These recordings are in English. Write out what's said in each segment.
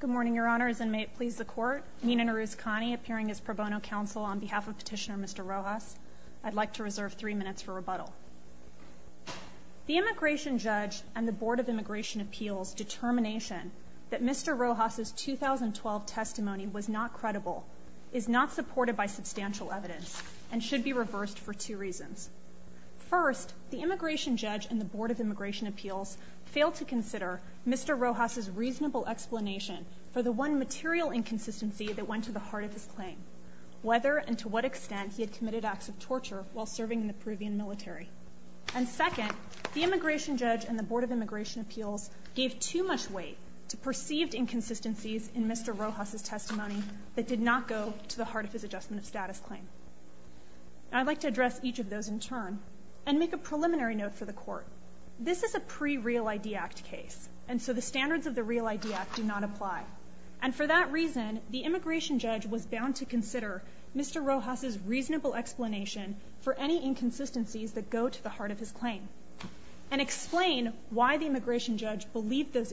Good morning, Your Honors, and may it please the Court, Nina Naruz-Khani appearing as pro bono counsel on behalf of Petitioner Mr. Rojas. I'd like to reserve three minutes for rebuttal. The Immigration Judge and the Board of Immigration Appeals' determination that Mr. Rojas' 2012 testimony was not credible, is not supported by substantial evidence, and should be reversed for two reasons. First, the Immigration Judge and the Board of Immigration Appeals failed to consider Mr. Rojas' reasonable explanation for the one material inconsistency that went to the heart of his claim, whether and to what extent he had committed acts of torture while serving in the Peruvian military. And second, the Immigration Judge and the Board of Immigration Appeals gave too much weight to perceived inconsistencies in Mr. Rojas' testimony that did not go to the heart of his Adjustment of Status claim. I'd like to address each of those in turn, and make a preliminary note for the Court. This is a pre-Real ID Act case, and so the standards of the Real ID Act do not apply. And for that reason, the Immigration Judge was bound to consider Mr. Rojas' reasonable explanation for any inconsistencies that go to the heart of his claim, and explain why the Immigration Judge believed those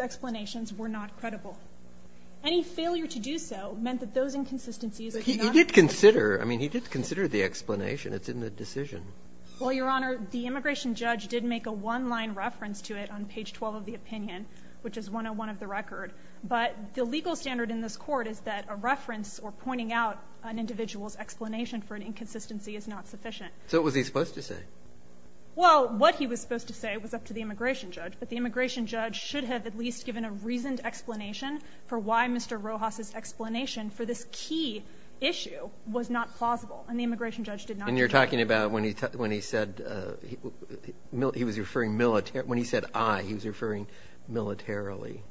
explanations were not credible. Any failure to do so meant that those inconsistencies are not credible. But he did consider, I mean, he did consider the explanation. It's in the decision. Well, Your Honor, the Immigration Judge did make a one-line reference to it on page 12 of the opinion, which is 101 of the record, but the legal standard in this Court is that a reference or pointing out an individual's explanation for an inconsistency is not sufficient. So what was he supposed to say? Well, what he was supposed to say was up to the Immigration Judge, but the Immigration Judge should have at least given a reasoned explanation for why Mr. Rojas' explanation for this key issue was not plausible, and the Immigration Judge did not do that. And you're talking about when he said I, he was referring militarily.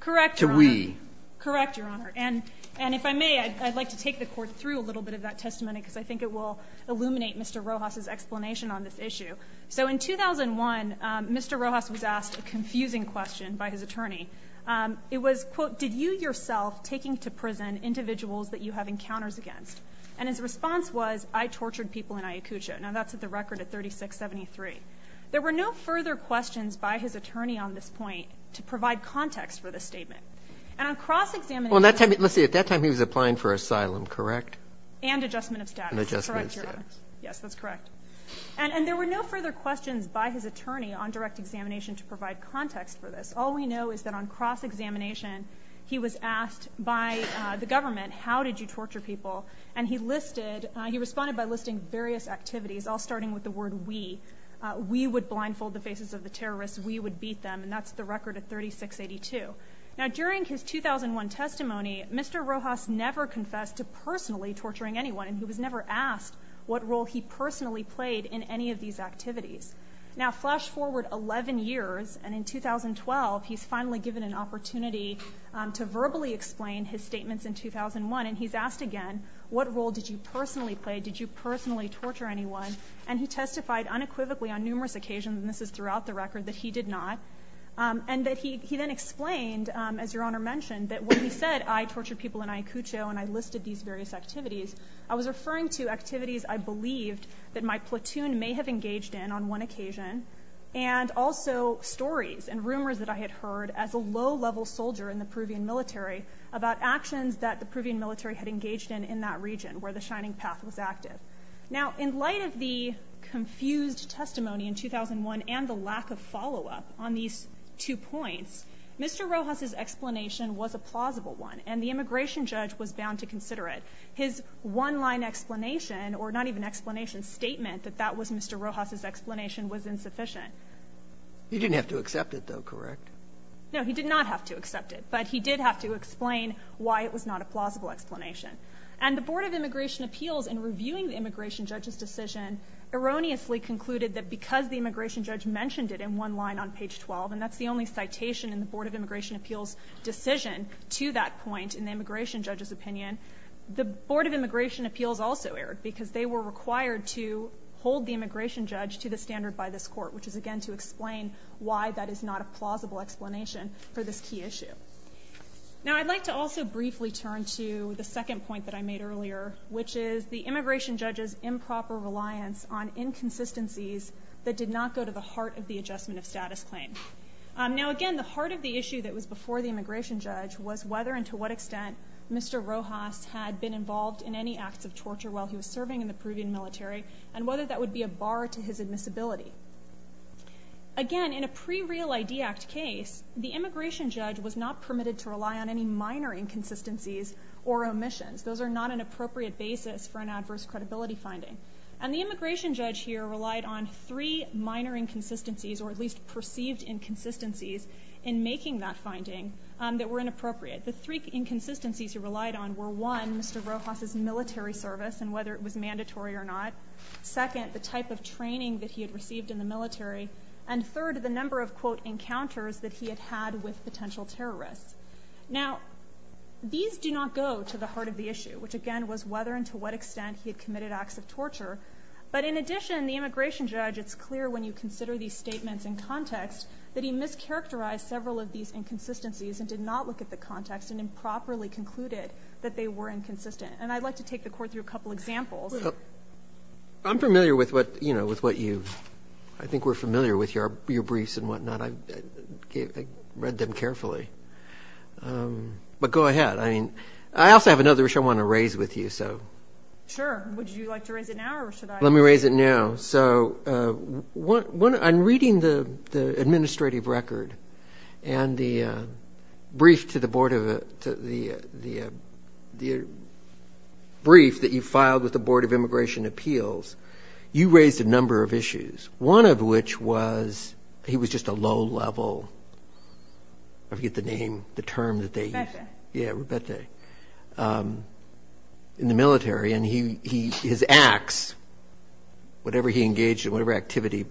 Correct, Your Honor. To we. Correct, Your Honor. And if I may, I'd like to take the Court through a little bit of that testimony because I think it will illuminate Mr. Rojas' explanation on this issue. So in 2001, Mr. Rojas was asked a confusing question by his attorney. It was, quote, did you yourself taking to prison individuals that you have encounters against? And his response was I tortured people in Ayacucho. Now, that's at the record at 3673. There were no further questions by his attorney on this point to provide context for this statement. And on cross-examination. Well, let's say at that time he was applying for asylum, correct? And adjustment of status. And adjustment of status. Correct, Your Honor. Yes, that's correct. And there were no further questions by his attorney on direct examination to provide context for this. All we know is that on cross-examination, he was asked by the government, how did you torture people? And he listed, he responded by listing various activities, all starting with the word we. We would blindfold the faces of the terrorists. We would beat them. And that's the record at 3682. Now, during his 2001 testimony, Mr. Rojas never confessed to personally torturing anyone. And he was never asked what role he personally played in any of these activities. Now, flash forward 11 years, and in 2012, he's finally given an opportunity to verbally explain his statements in 2001. And he's asked again, what role did you personally play? Did you personally torture anyone? And he testified unequivocally on numerous occasions, and this is throughout the record, that he did not. And that he then explained, as Your Honor mentioned, that when he said, I tortured people in Ayacucho, and I listed these various activities, I was referring to activities I believed that my platoon may have engaged in on one occasion, and also stories and rumors that I had heard as a low-level soldier in the Peruvian military about actions that the Peruvian military had engaged in in that region where the Shining Path was active. Now, in light of the confused testimony in 2001 and the lack of follow-up on these two points, Mr. Rojas's explanation was a plausible one, and the immigration judge was bound to consider it. His one-line explanation, or not even explanation, statement that that was Mr. Rojas's explanation was insufficient. He didn't have to accept it, though, correct? No, he did not have to accept it, but he did have to explain why it was not a plausible explanation. And the Board of Immigration Appeals, in reviewing the immigration judge's decision, erroneously concluded that because the immigration judge mentioned it in one line on page 12, and that's the only citation in the Board of Immigration Appeals decision to that point in the immigration judge's opinion, the Board of Immigration Appeals also erred because they were required to hold the immigration judge to the standard by this court, which is, again, to explain why that is not a plausible explanation for this key issue. Now, I'd like to also briefly turn to the second point that I made earlier, which is the immigration judge's improper reliance on inconsistencies that did not go to the heart of the adjustment of status claim. Now, again, the heart of the issue that was before the immigration judge was whether and to what extent Mr. Rojas had been involved in any acts of torture while he was serving in the Peruvian military, and whether that would be a bar to his admissibility. Again, in a pre-Real ID Act case, the immigration judge was not permitted to rely on any minor inconsistencies or omissions. Those are not an appropriate basis for an adverse credibility finding. And the immigration judge here relied on three minor inconsistencies, or at least perceived inconsistencies, in making that finding that were inappropriate. The three inconsistencies he relied on were, one, Mr. Rojas' military service and whether it was mandatory or not, second, the type of training that he had received in the military, and third, the number of, quote, encounters that he had had with potential terrorists. Now, these do not go to the heart of the issue, which, again, was whether and to what extent he had committed acts of torture. But in addition, the immigration judge, it's clear when you consider these statements in context that he mischaracterized several of these inconsistencies and did not look at the context and improperly concluded that they were inconsistent. And I'd like to take the Court through a couple of examples. I'm familiar with what you've – I think we're familiar with your briefs and whatnot. I read them carefully. But go ahead. I mean, I also have another issue I want to raise with you. Sure. Would you like to raise it now or should I? Let me raise it now. So I'm reading the administrative record and the brief to the Board of – the brief that you filed with the Board of Immigration Appeals. You raised a number of issues, one of which was he was just a low-level – I forget the name, the term that they used. Rubete. Yeah, Rubete, in the military. And his acts, whatever he engaged in, whatever activity,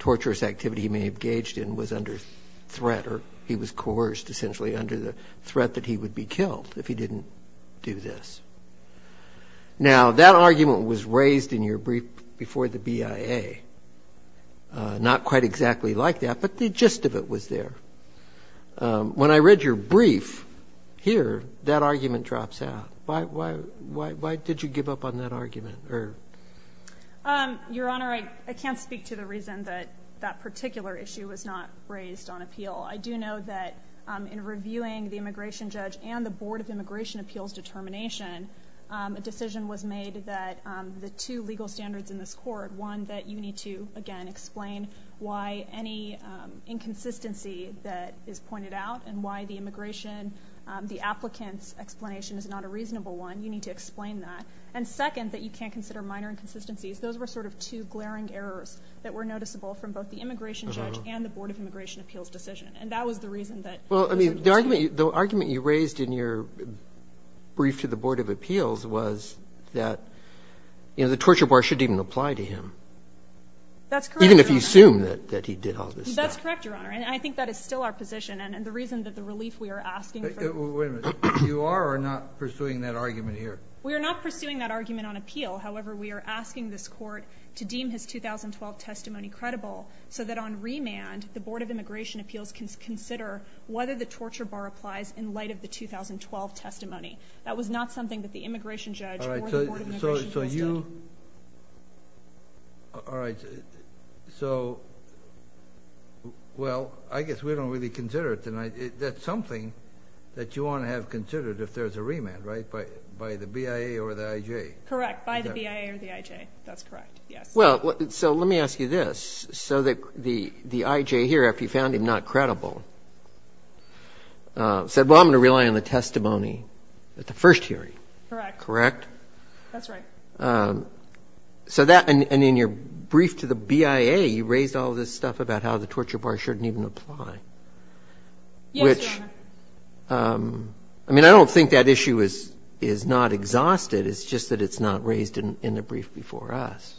torturous activity he may have engaged in, was under threat or he was coerced, essentially, under the threat that he would be killed if he didn't do this. Now, that argument was raised in your brief before the BIA, not quite exactly like that, but the gist of it was there. When I read your brief here, that argument drops out. Why did you give up on that argument? Your Honor, I can't speak to the reason that that particular issue was not raised on appeal. I do know that in reviewing the immigration judge and the Board of Immigration Appeals determination, a decision was made that the two legal standards in this court, one, that you need to, again, explain why any inconsistency that is pointed out and why the immigration, the applicant's explanation is not a reasonable one, you need to explain that. And second, that you can't consider minor inconsistencies. Those were sort of two glaring errors that were noticeable from both the immigration judge and the Board of Immigration Appeals decision. And that was the reason that it was not raised. Well, I mean, the argument you raised in your brief to the Board of Appeals was that, you know, the torture bar shouldn't even apply to him. That's correct, Your Honor. Even if you assume that he did all this stuff. That's correct, Your Honor. And I think that is still our position. And the reason that the relief we are asking for the board of immigration Wait a minute. You are or are not pursuing that argument here? We are not pursuing that argument on appeal. However, we are asking this court to deem his 2012 testimony credible so that on remand the Board of Immigration Appeals can consider whether the torture bar applies in light of the 2012 testimony. That was not something that the immigration judge or the Board of Immigration Appeals did. All right. So, well, I guess we don't really consider it. That's something that you want to have considered if there's a remand, right, by the BIA or the IJ? Correct, by the BIA or the IJ. That's correct, yes. Well, so let me ask you this. So the IJ here, after you found him not credible, said, well, I'm going to rely on the testimony at the first hearing. Correct. Correct? That's right. So that, and in your brief to the BIA, you raised all this stuff about how the torture bar shouldn't even apply. Yes, Your Honor. Which, I mean, I don't think that issue is not exhausted. It's just that it's not raised in the brief before us.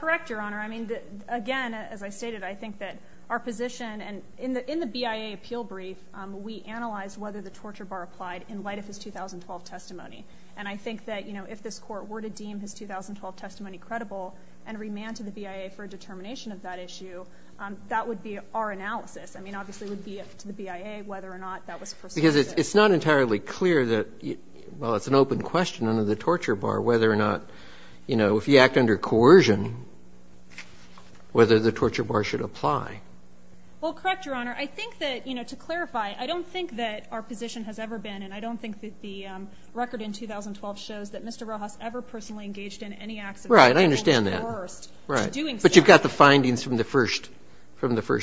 Correct, Your Honor. I mean, again, as I stated, I think that our position, and in the BIA appeal brief, we analyzed whether the torture bar applied in light of his 2012 testimony. And I think that, you know, if this Court were to deem his 2012 testimony credible and remand to the BIA for a determination of that issue, that would be our analysis. I mean, obviously it would be up to the BIA whether or not that was perceived. Because it's not entirely clear that, well, it's an open question under the torture bar whether or not, you know, if you act under coercion, whether the torture bar should apply. Well, correct, Your Honor. I think that, you know, to clarify, I don't think that our position has ever been, and I don't think that the record in 2012 shows that Mr. Rojas ever personally engaged in any acts of torture. Right, I understand that. But you've got the findings from the first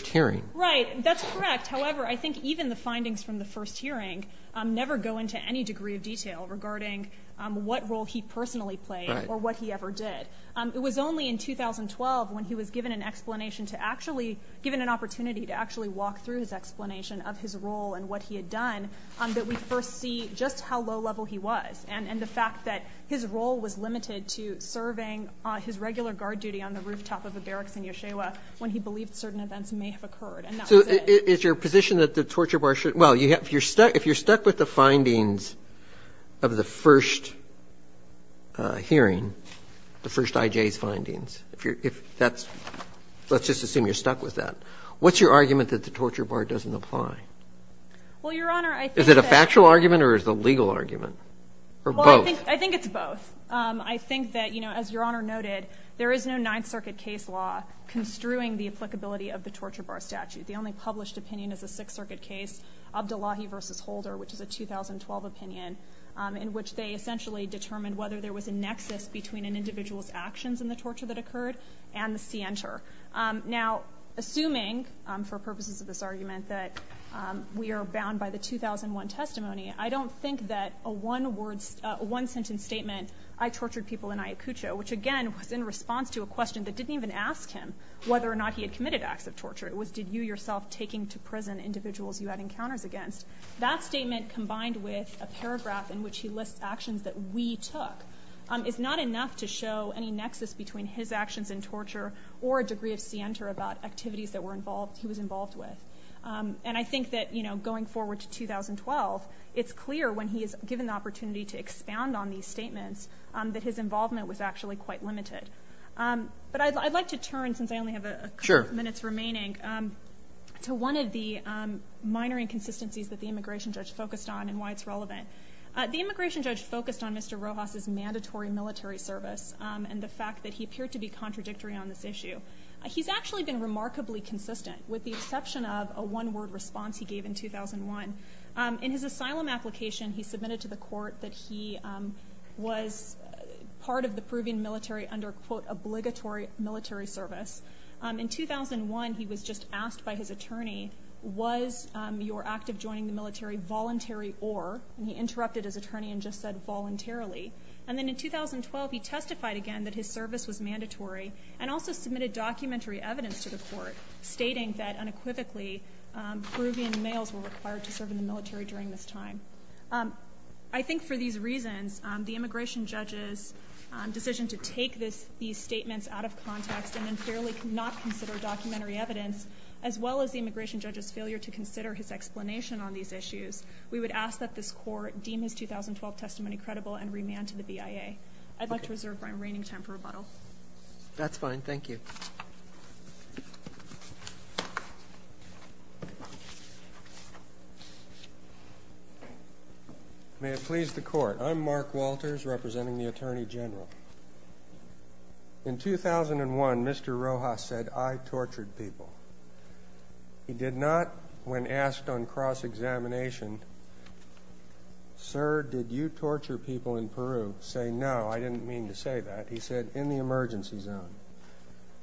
hearing. Right, that's correct. However, I think even the findings from the first hearing never go into any degree of detail regarding what role he personally played or what he ever did. It was only in 2012 when he was given an explanation to actually walk through his explanation of his role and what he had done that we first see just how low level he was and the fact that his role was limited to serving his regular guard duty on the rooftop of a barracks in Yeshiva when he believed certain events may have occurred. And that was it. So is your position that the torture bar should – well, if you're stuck with the findings of the first hearing, the first IJ's findings, if that's – let's just assume you're stuck with that. What's your argument that the torture bar doesn't apply? Well, Your Honor, I think that – Is it a factual argument or is it a legal argument? Or both? Well, I think it's both. I think that, you know, as Your Honor noted, there is no Ninth Circuit case law construing the applicability of the torture bar statute. The only published opinion is a Sixth Circuit case, Abdullahi v. Holder, which is a 2012 opinion, in which they essentially determined whether there was a nexus between an individual's actions in the torture that occurred and the scienter. Now, assuming, for purposes of this argument, that we are bound by the 2001 testimony, I don't think that a one-sentence statement, I tortured people in Ayacucho, which again was in response to a question that didn't even ask him whether or not he had committed acts of torture. It was, did you yourself take into prison individuals you had encounters against? That statement combined with a paragraph in which he lists actions that we took is not enough to show any nexus between his actions in torture or a degree of scienter about activities that he was involved with. And I think that, you know, going forward to 2012, it's clear when he is given the opportunity to expound on these statements that his involvement was actually quite limited. But I'd like to turn, since I only have a couple of minutes remaining, to one of the minor inconsistencies that the immigration judge focused on and why it's relevant. The immigration judge focused on Mr. Rojas's mandatory military service and the fact that he appeared to be contradictory on this issue. He's actually been remarkably consistent with the exception of a one-word response he gave in 2001. In his asylum application, he submitted to the court that he was part of the Peruvian military under, quote, obligatory military service. In 2001, he was just asked by his attorney, was your act of joining the military voluntary or, and he interrupted his attorney and just said, voluntarily. And then in 2012, he testified again that his service was mandatory and also submitted documentary evidence to the court stating that unequivocally Peruvian males were required to serve in the military during this time. I think for these reasons, the immigration judge's decision to take these statements out of context and then clearly not consider documentary evidence, as well as the immigration judge's failure to consider his explanation on these issues, we would ask that this court deem his 2012 testimony credible and remand to the BIA. I'd like to reserve my reigning time for rebuttal. That's fine. Thank you. May it please the court. I'm Mark Walters, representing the Attorney General. In 2001, Mr. Rojas said, I tortured people. He did not, when asked on cross-examination, sir, did you torture people in Peru? Say, no, I didn't mean to say that. He said, in the emergency zone.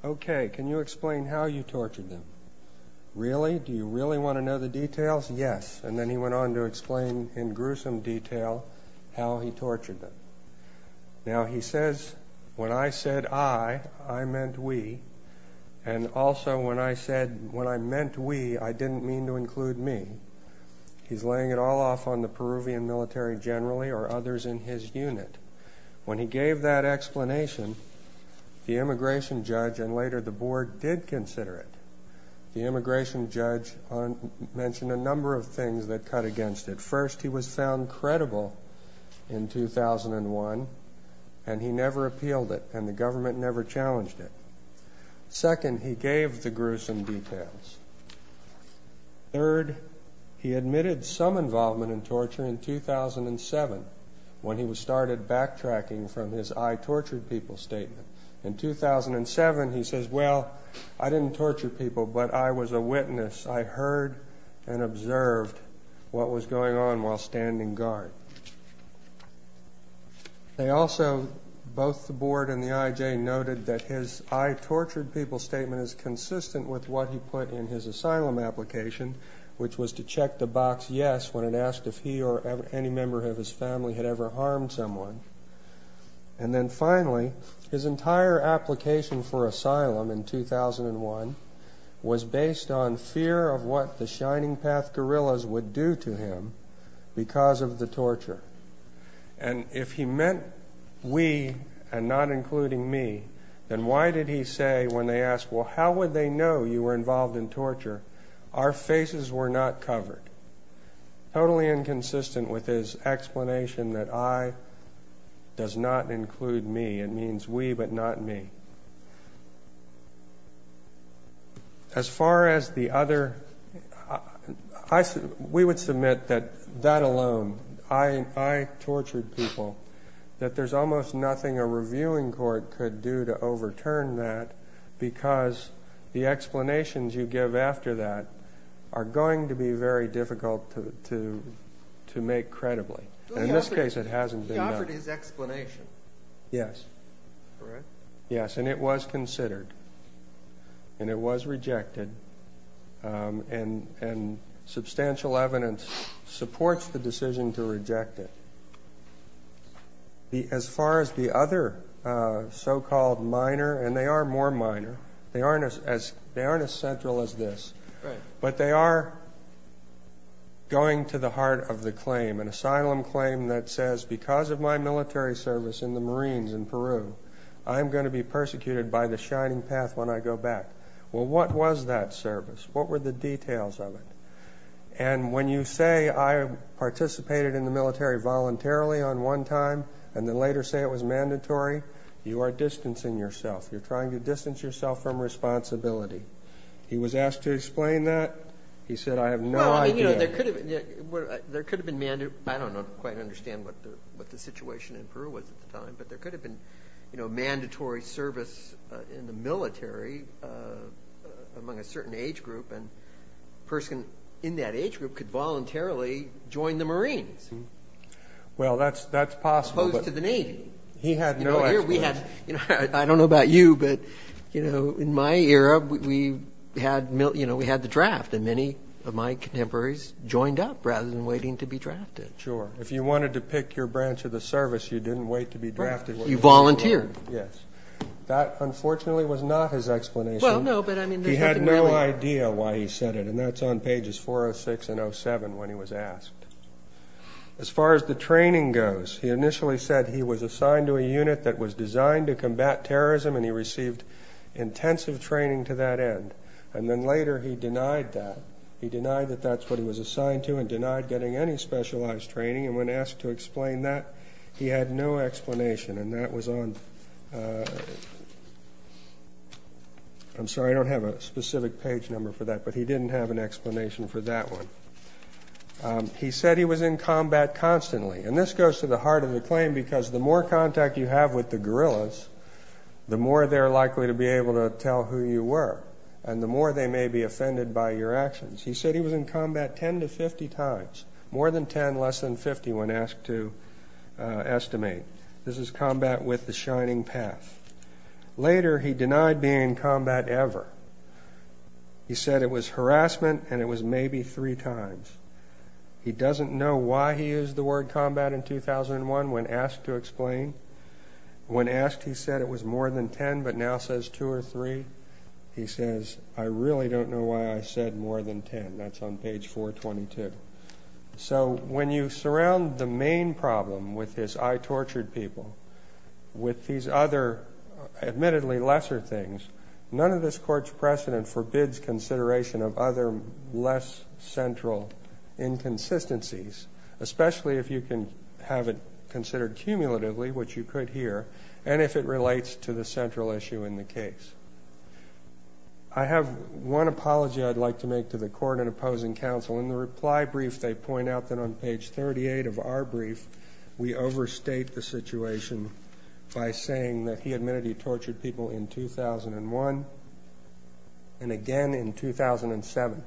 Okay, can you explain how you tortured them? Really? Do you really want to know the details? Yes. And then he went on to explain in gruesome detail how he tortured them. Now, he says, when I said I, I meant we, and also when I said when I meant we, I didn't mean to include me. He's laying it all off on the Peruvian military generally or others in his unit. When he gave that explanation, the immigration judge and later the board did consider it. The immigration judge mentioned a number of things that cut against it. First, he was found credible in 2001, and he never appealed it, and the government never challenged it. Second, he gave the gruesome details. Third, he admitted some involvement in torture in 2007, when he started backtracking from his I tortured people statement. In 2007, he says, well, I didn't torture people, but I was a witness. I heard and observed what was going on while standing guard. They also, both the board and the IJ, noted that his I tortured people statement is consistent with what he put in his asylum application, which was to check the box yes when it asked if he or any member of his family had ever harmed someone. And then finally, his entire application for asylum in 2001 was based on fear of what the Shining Path guerrillas would do to him because of the torture. And if he meant we and not including me, then why did he say when they asked, well, how would they know you were involved in torture, our faces were not covered? Totally inconsistent with his explanation that I does not include me. It means we but not me. As far as the other, we would submit that that alone, I tortured people, that there's almost nothing a reviewing court could do to overturn that because the explanations you give after that are going to be very difficult to make credibly. In this case, it hasn't been done. Yes. Yes. And it was considered. And it was rejected. And substantial evidence supports the decision to reject it. As far as the other so-called minor, and they are more minor, they aren't as central as this. But they are going to the heart of the claim, an asylum claim that says because of my military service in the Marines in Peru, I'm going to be persecuted by the Shining Path when I go back. Well, what was that service? What were the details of it? And when you say I participated in the military voluntarily on one time and then later say it was mandatory, you are distancing yourself. You're trying to distance yourself from responsibility. He was asked to explain that. He said I have no idea. There could have been mandatory. I don't quite understand what the situation in Peru was at the time, but there could have been mandatory service in the military among a certain age group, and a person in that age group could voluntarily join the Marines. Well, that's possible. As opposed to the Navy. He had no explanation. I don't know about you, but in my era, we had the draft, and many of my contemporaries joined up rather than waiting to be drafted. Sure. If you wanted to pick your branch of the service, you didn't wait to be drafted. You volunteered. Yes. That, unfortunately, was not his explanation. Well, no, but I mean there's nothing really. He had no idea why he said it, and that's on pages 406 and 07 when he was asked. As far as the training goes, he initially said he was assigned to a unit that was designed to combat terrorism, and he received intensive training to that end, and then later he denied that. He denied that that's what he was assigned to and denied getting any specialized training, and when asked to explain that, he had no explanation, and that was on the next slide. I'm sorry, I don't have a specific page number for that, but he didn't have an explanation for that one. He said he was in combat constantly, and this goes to the heart of the claim because the more contact you have with the guerrillas, the more they're likely to be able to tell who you were, and the more they may be offended by your actions. He said he was in combat 10 to 50 times, more than 10, less than 50 when asked to estimate. This is combat with the shining path. Later, he denied being in combat ever. He said it was harassment, and it was maybe three times. He doesn't know why he used the word combat in 2001 when asked to explain. When asked, he said it was more than 10, but now says two or three. He says, I really don't know why I said more than 10. That's on page 422. So when you surround the main problem with his I tortured people with these other admittedly lesser things, none of this court's precedent forbids consideration of other less central inconsistencies, especially if you can have it considered cumulatively, which you could here, and if it relates to the central issue in the case. I have one apology I'd like to make to the court and opposing counsel. In the reply brief, they point out that on page 38 of our brief, we overstate the situation by saying that he admitted he tortured people in 2001 and again in 2007.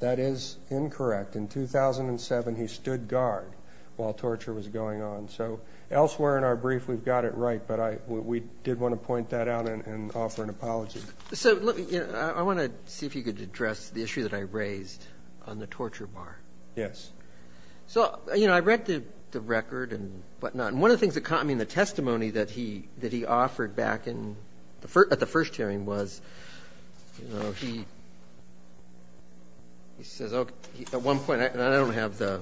That is incorrect. In 2007, he stood guard while torture was going on. So elsewhere in our brief, we've got it right, but we did want to point that out and offer an apology. I want to see if you could address the issue that I raised on the torture bar. Yes. So I read the record and whatnot, and one of the things that caught me in the testimony that he offered back at the first hearing was he says, at one point, and I don't have the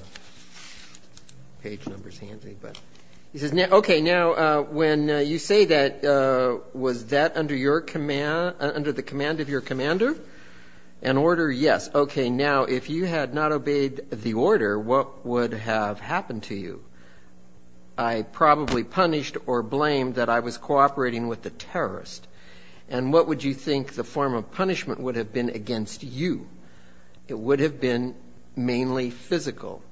page numbers handy, but he says, okay, now, when you say that, was that under the command of your commander? An order, yes. Okay, now, if you had not obeyed the order, what would have happened to you? I probably punished or blamed that I was cooperating with the terrorist. And what would you think the form of punishment would have been against you? It would have been mainly physical.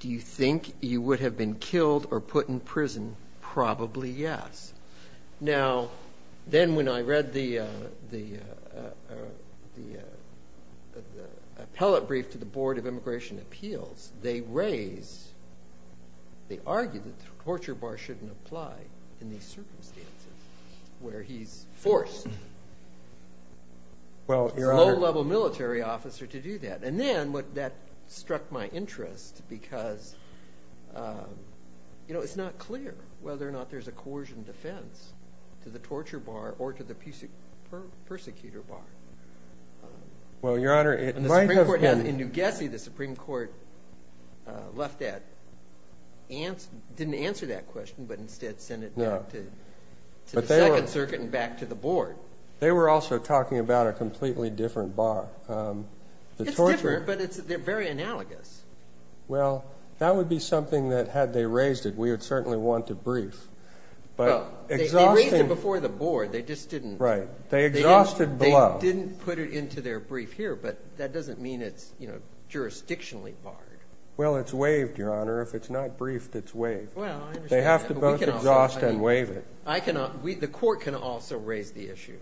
Do you think you would have been killed or put in prison? Probably yes. Now, then when I read the appellate brief to the Board of Immigration Appeals, they raised, they argued that the torture bar shouldn't apply in these circumstances where he's forced. Well, Your Honor. A low-level military officer to do that. And then that struck my interest because, you know, it's not clear whether or not there's a coercion defense to the torture bar or to the persecutor bar. Well, Your Honor, it might have been. In New Gessie, the Supreme Court left that, didn't answer that question, but instead sent it back to the Second Circuit and back to the Board. They were also talking about a completely different bar. It's different, but they're very analogous. Well, that would be something that, had they raised it, we would certainly want to brief. They raised it before the Board. They just didn't. Right. They exhausted below. They didn't put it into their brief here, but that doesn't mean it's, you know, jurisdictionally barred. Well, it's waived, Your Honor. If it's not briefed, it's waived. They have to both exhaust and waive it. The court can also raise the issue.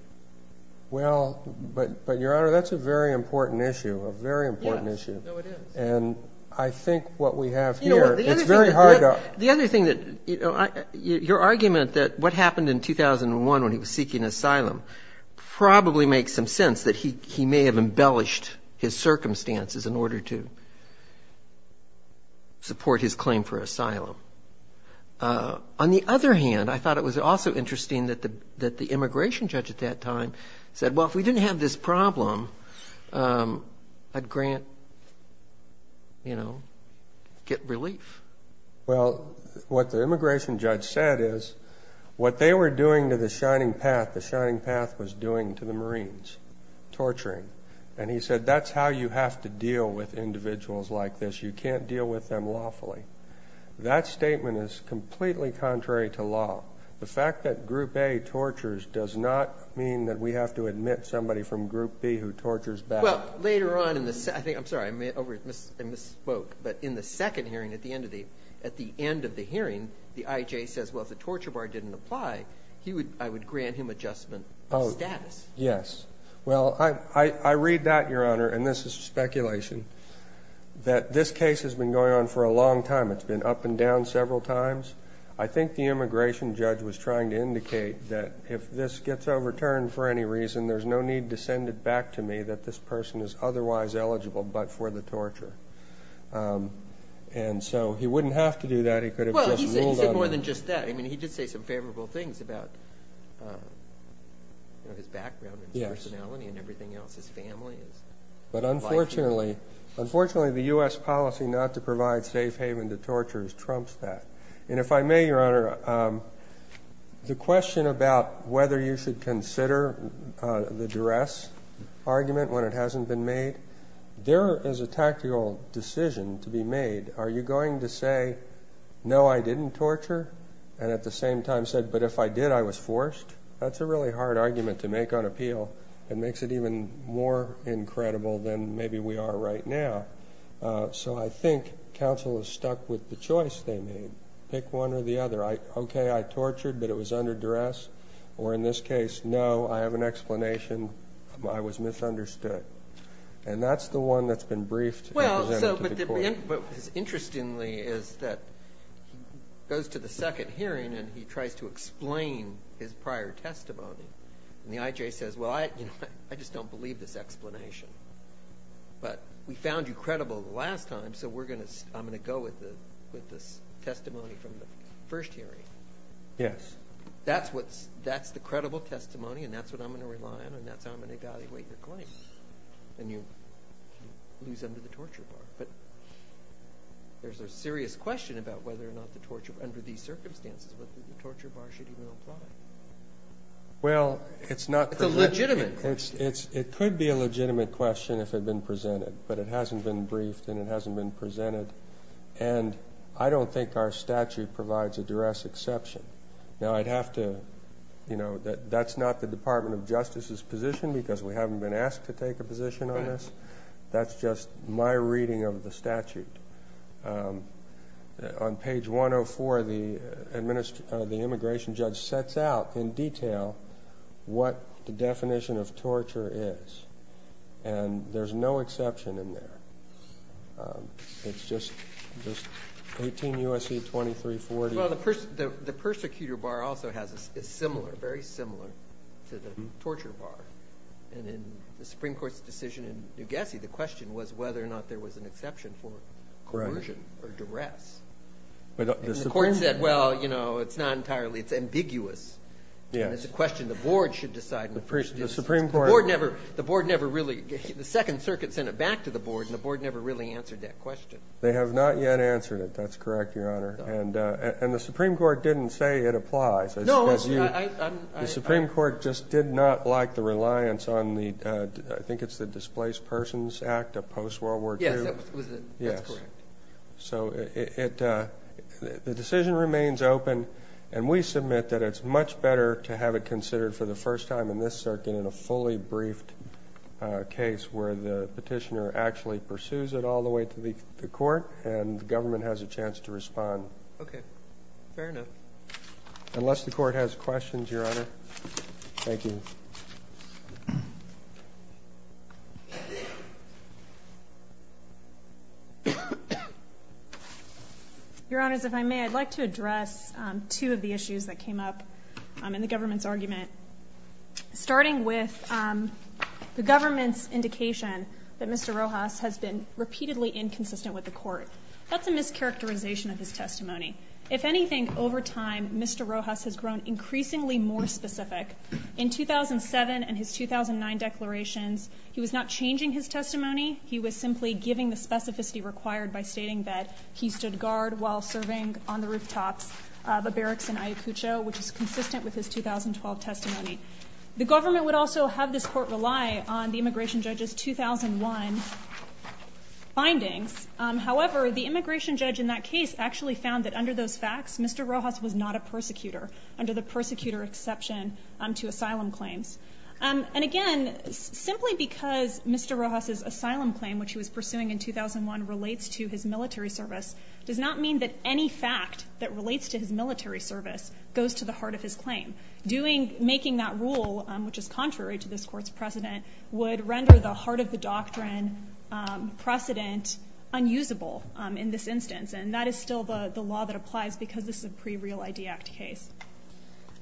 Well, but, Your Honor, that's a very important issue, a very important issue. Yes. No, it is. And I think what we have here, it's very hard to. The other thing that, you know, your argument that what happened in 2001 when he was seeking asylum probably makes some sense, that he may have embellished his circumstances in order to support his claim for asylum. On the other hand, I thought it was also interesting that the immigration judge at that time said, well, if we didn't have this problem, I'd grant, you know, get relief. Well, what the immigration judge said is what they were doing to the Shining Path, the Shining Path was doing to the Marines, torturing. And he said that's how you have to deal with individuals like this. You can't deal with them lawfully. That statement is completely contrary to law. The fact that Group A tortures does not mean that we have to admit somebody from Group B who tortures back. Well, later on, I'm sorry, I misspoke. But in the second hearing, at the end of the hearing, the IJ says, well, if the torture bar didn't apply, I would grant him adjustment of status. Yes. Well, I read that, Your Honor, and this is speculation, that this case has been going on for a long time. It's been up and down several times. I think the immigration judge was trying to indicate that if this gets overturned for any reason, there's no need to send it back to me that this person is otherwise eligible but for the torture. And so he wouldn't have to do that. He could have just ruled on it. Well, he said more than just that. I mean, he did say some favorable things about, you know, his background and his personality and everything else, his family. But unfortunately, the U.S. policy not to provide safe haven to torturers trumps that. And if I may, Your Honor, the question about whether you should consider the duress argument when it hasn't been made, there is a tactical decision to be made. Are you going to say, no, I didn't torture, and at the same time said, but if I did, I was forced? That's a really hard argument to make on appeal. It makes it even more incredible than maybe we are right now. So I think counsel is stuck with the choice they made. Pick one or the other. Okay, I tortured, but it was under duress. Or in this case, no, I have an explanation. I was misunderstood. And that's the one that's been briefed and presented to the court. Interestingly is that he goes to the second hearing and he tries to explain his prior testimony. And the I.J. says, well, I just don't believe this explanation. But we found you credible the last time, so I'm going to go with the testimony from the first hearing. Yes. That's the credible testimony, and that's what I'm going to rely on, and that's how I'm going to evaluate your claim. And you lose under the torture bar. But there's a serious question about whether or not the torture under these circumstances, whether the torture bar should even apply. Well, it's not presented. It's a legitimate question. It could be a legitimate question if it had been presented, but it hasn't been briefed and it hasn't been presented. And I don't think our statute provides a duress exception. Now, I'd have to, you know, that's not the Department of Justice's position because we haven't been asked to take a position on this. That's just my reading of the statute. On page 104, the immigration judge sets out in detail what the definition of torture is. And there's no exception in there. It's just 18 U.S.C. 2340. Well, the persecutor bar also is similar, very similar, to the torture bar. And in the Supreme Court's decision in New Gassie, the question was whether or not there was an exception for coercion or duress. And the court said, well, you know, it's not entirely. It's ambiguous. And it's a question the board should decide. The Supreme Court. The board never really – the Second Circuit sent it back to the board, and the board never really answered that question. They have not yet answered it. That's correct, Your Honor. And the Supreme Court didn't say it applies. No. The Supreme Court just did not like the reliance on the – I think it's the Displaced Persons Act of post-World War II. Yes, that was it. Yes. That's correct. So it – the decision remains open. And we submit that it's much better to have it considered for the first time in this circuit in a fully briefed case where the petitioner actually pursues it all the way to the court and the government has a chance to respond. Okay. Fair enough. Unless the court has questions, Your Honor. Thank you. Your Honors, if I may, I'd like to address two of the issues that came up in the government's argument. Starting with the government's indication that Mr. Rojas has been repeatedly inconsistent with the court. That's a mischaracterization of his testimony. If anything, over time, Mr. Rojas has grown increasingly more specific. In 2007 and his 2009 declarations, he was not changing his testimony. He was simply giving the specificity required by stating that he stood guard while serving on the rooftops of the barracks in Ayacucho, which is consistent with his 2012 testimony. The government would also have this court rely on the immigration judge's 2001 findings. However, the immigration judge in that case actually found that under those facts, Mr. Rojas was not a persecutor, under the persecutor exception to asylum claims. And again, simply because Mr. Rojas' asylum claim, which he was pursuing in 2001, relates to his military service, does not mean that any fact that relates to his military service goes to the heart of his claim. Making that rule, which is contrary to this court's precedent, would render the heart of the doctrine precedent unusable in this instance. And that is still the law that applies because this is a pre-Real ID Act case.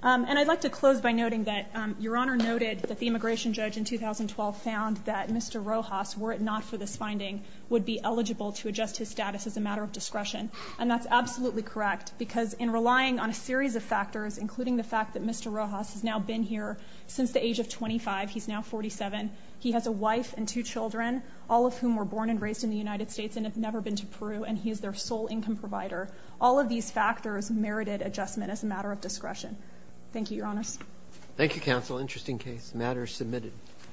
And I'd like to close by noting that Your Honor noted that the immigration judge in 2012 found that Mr. Rojas, were it not for this finding, would be eligible to adjust his status as a matter of discretion. And that's absolutely correct because in relying on a series of factors, including the fact that Mr. Rojas has now been here since the age of 25, he's now 47, he has a wife and two children, all of whom were born and raised in the United States and have never been to Peru, and he is their sole income provider. All of these factors merited adjustment as a matter of discretion. Thank you, Your Honors. Thank you, Counsel. Interesting case. The matter is submitted.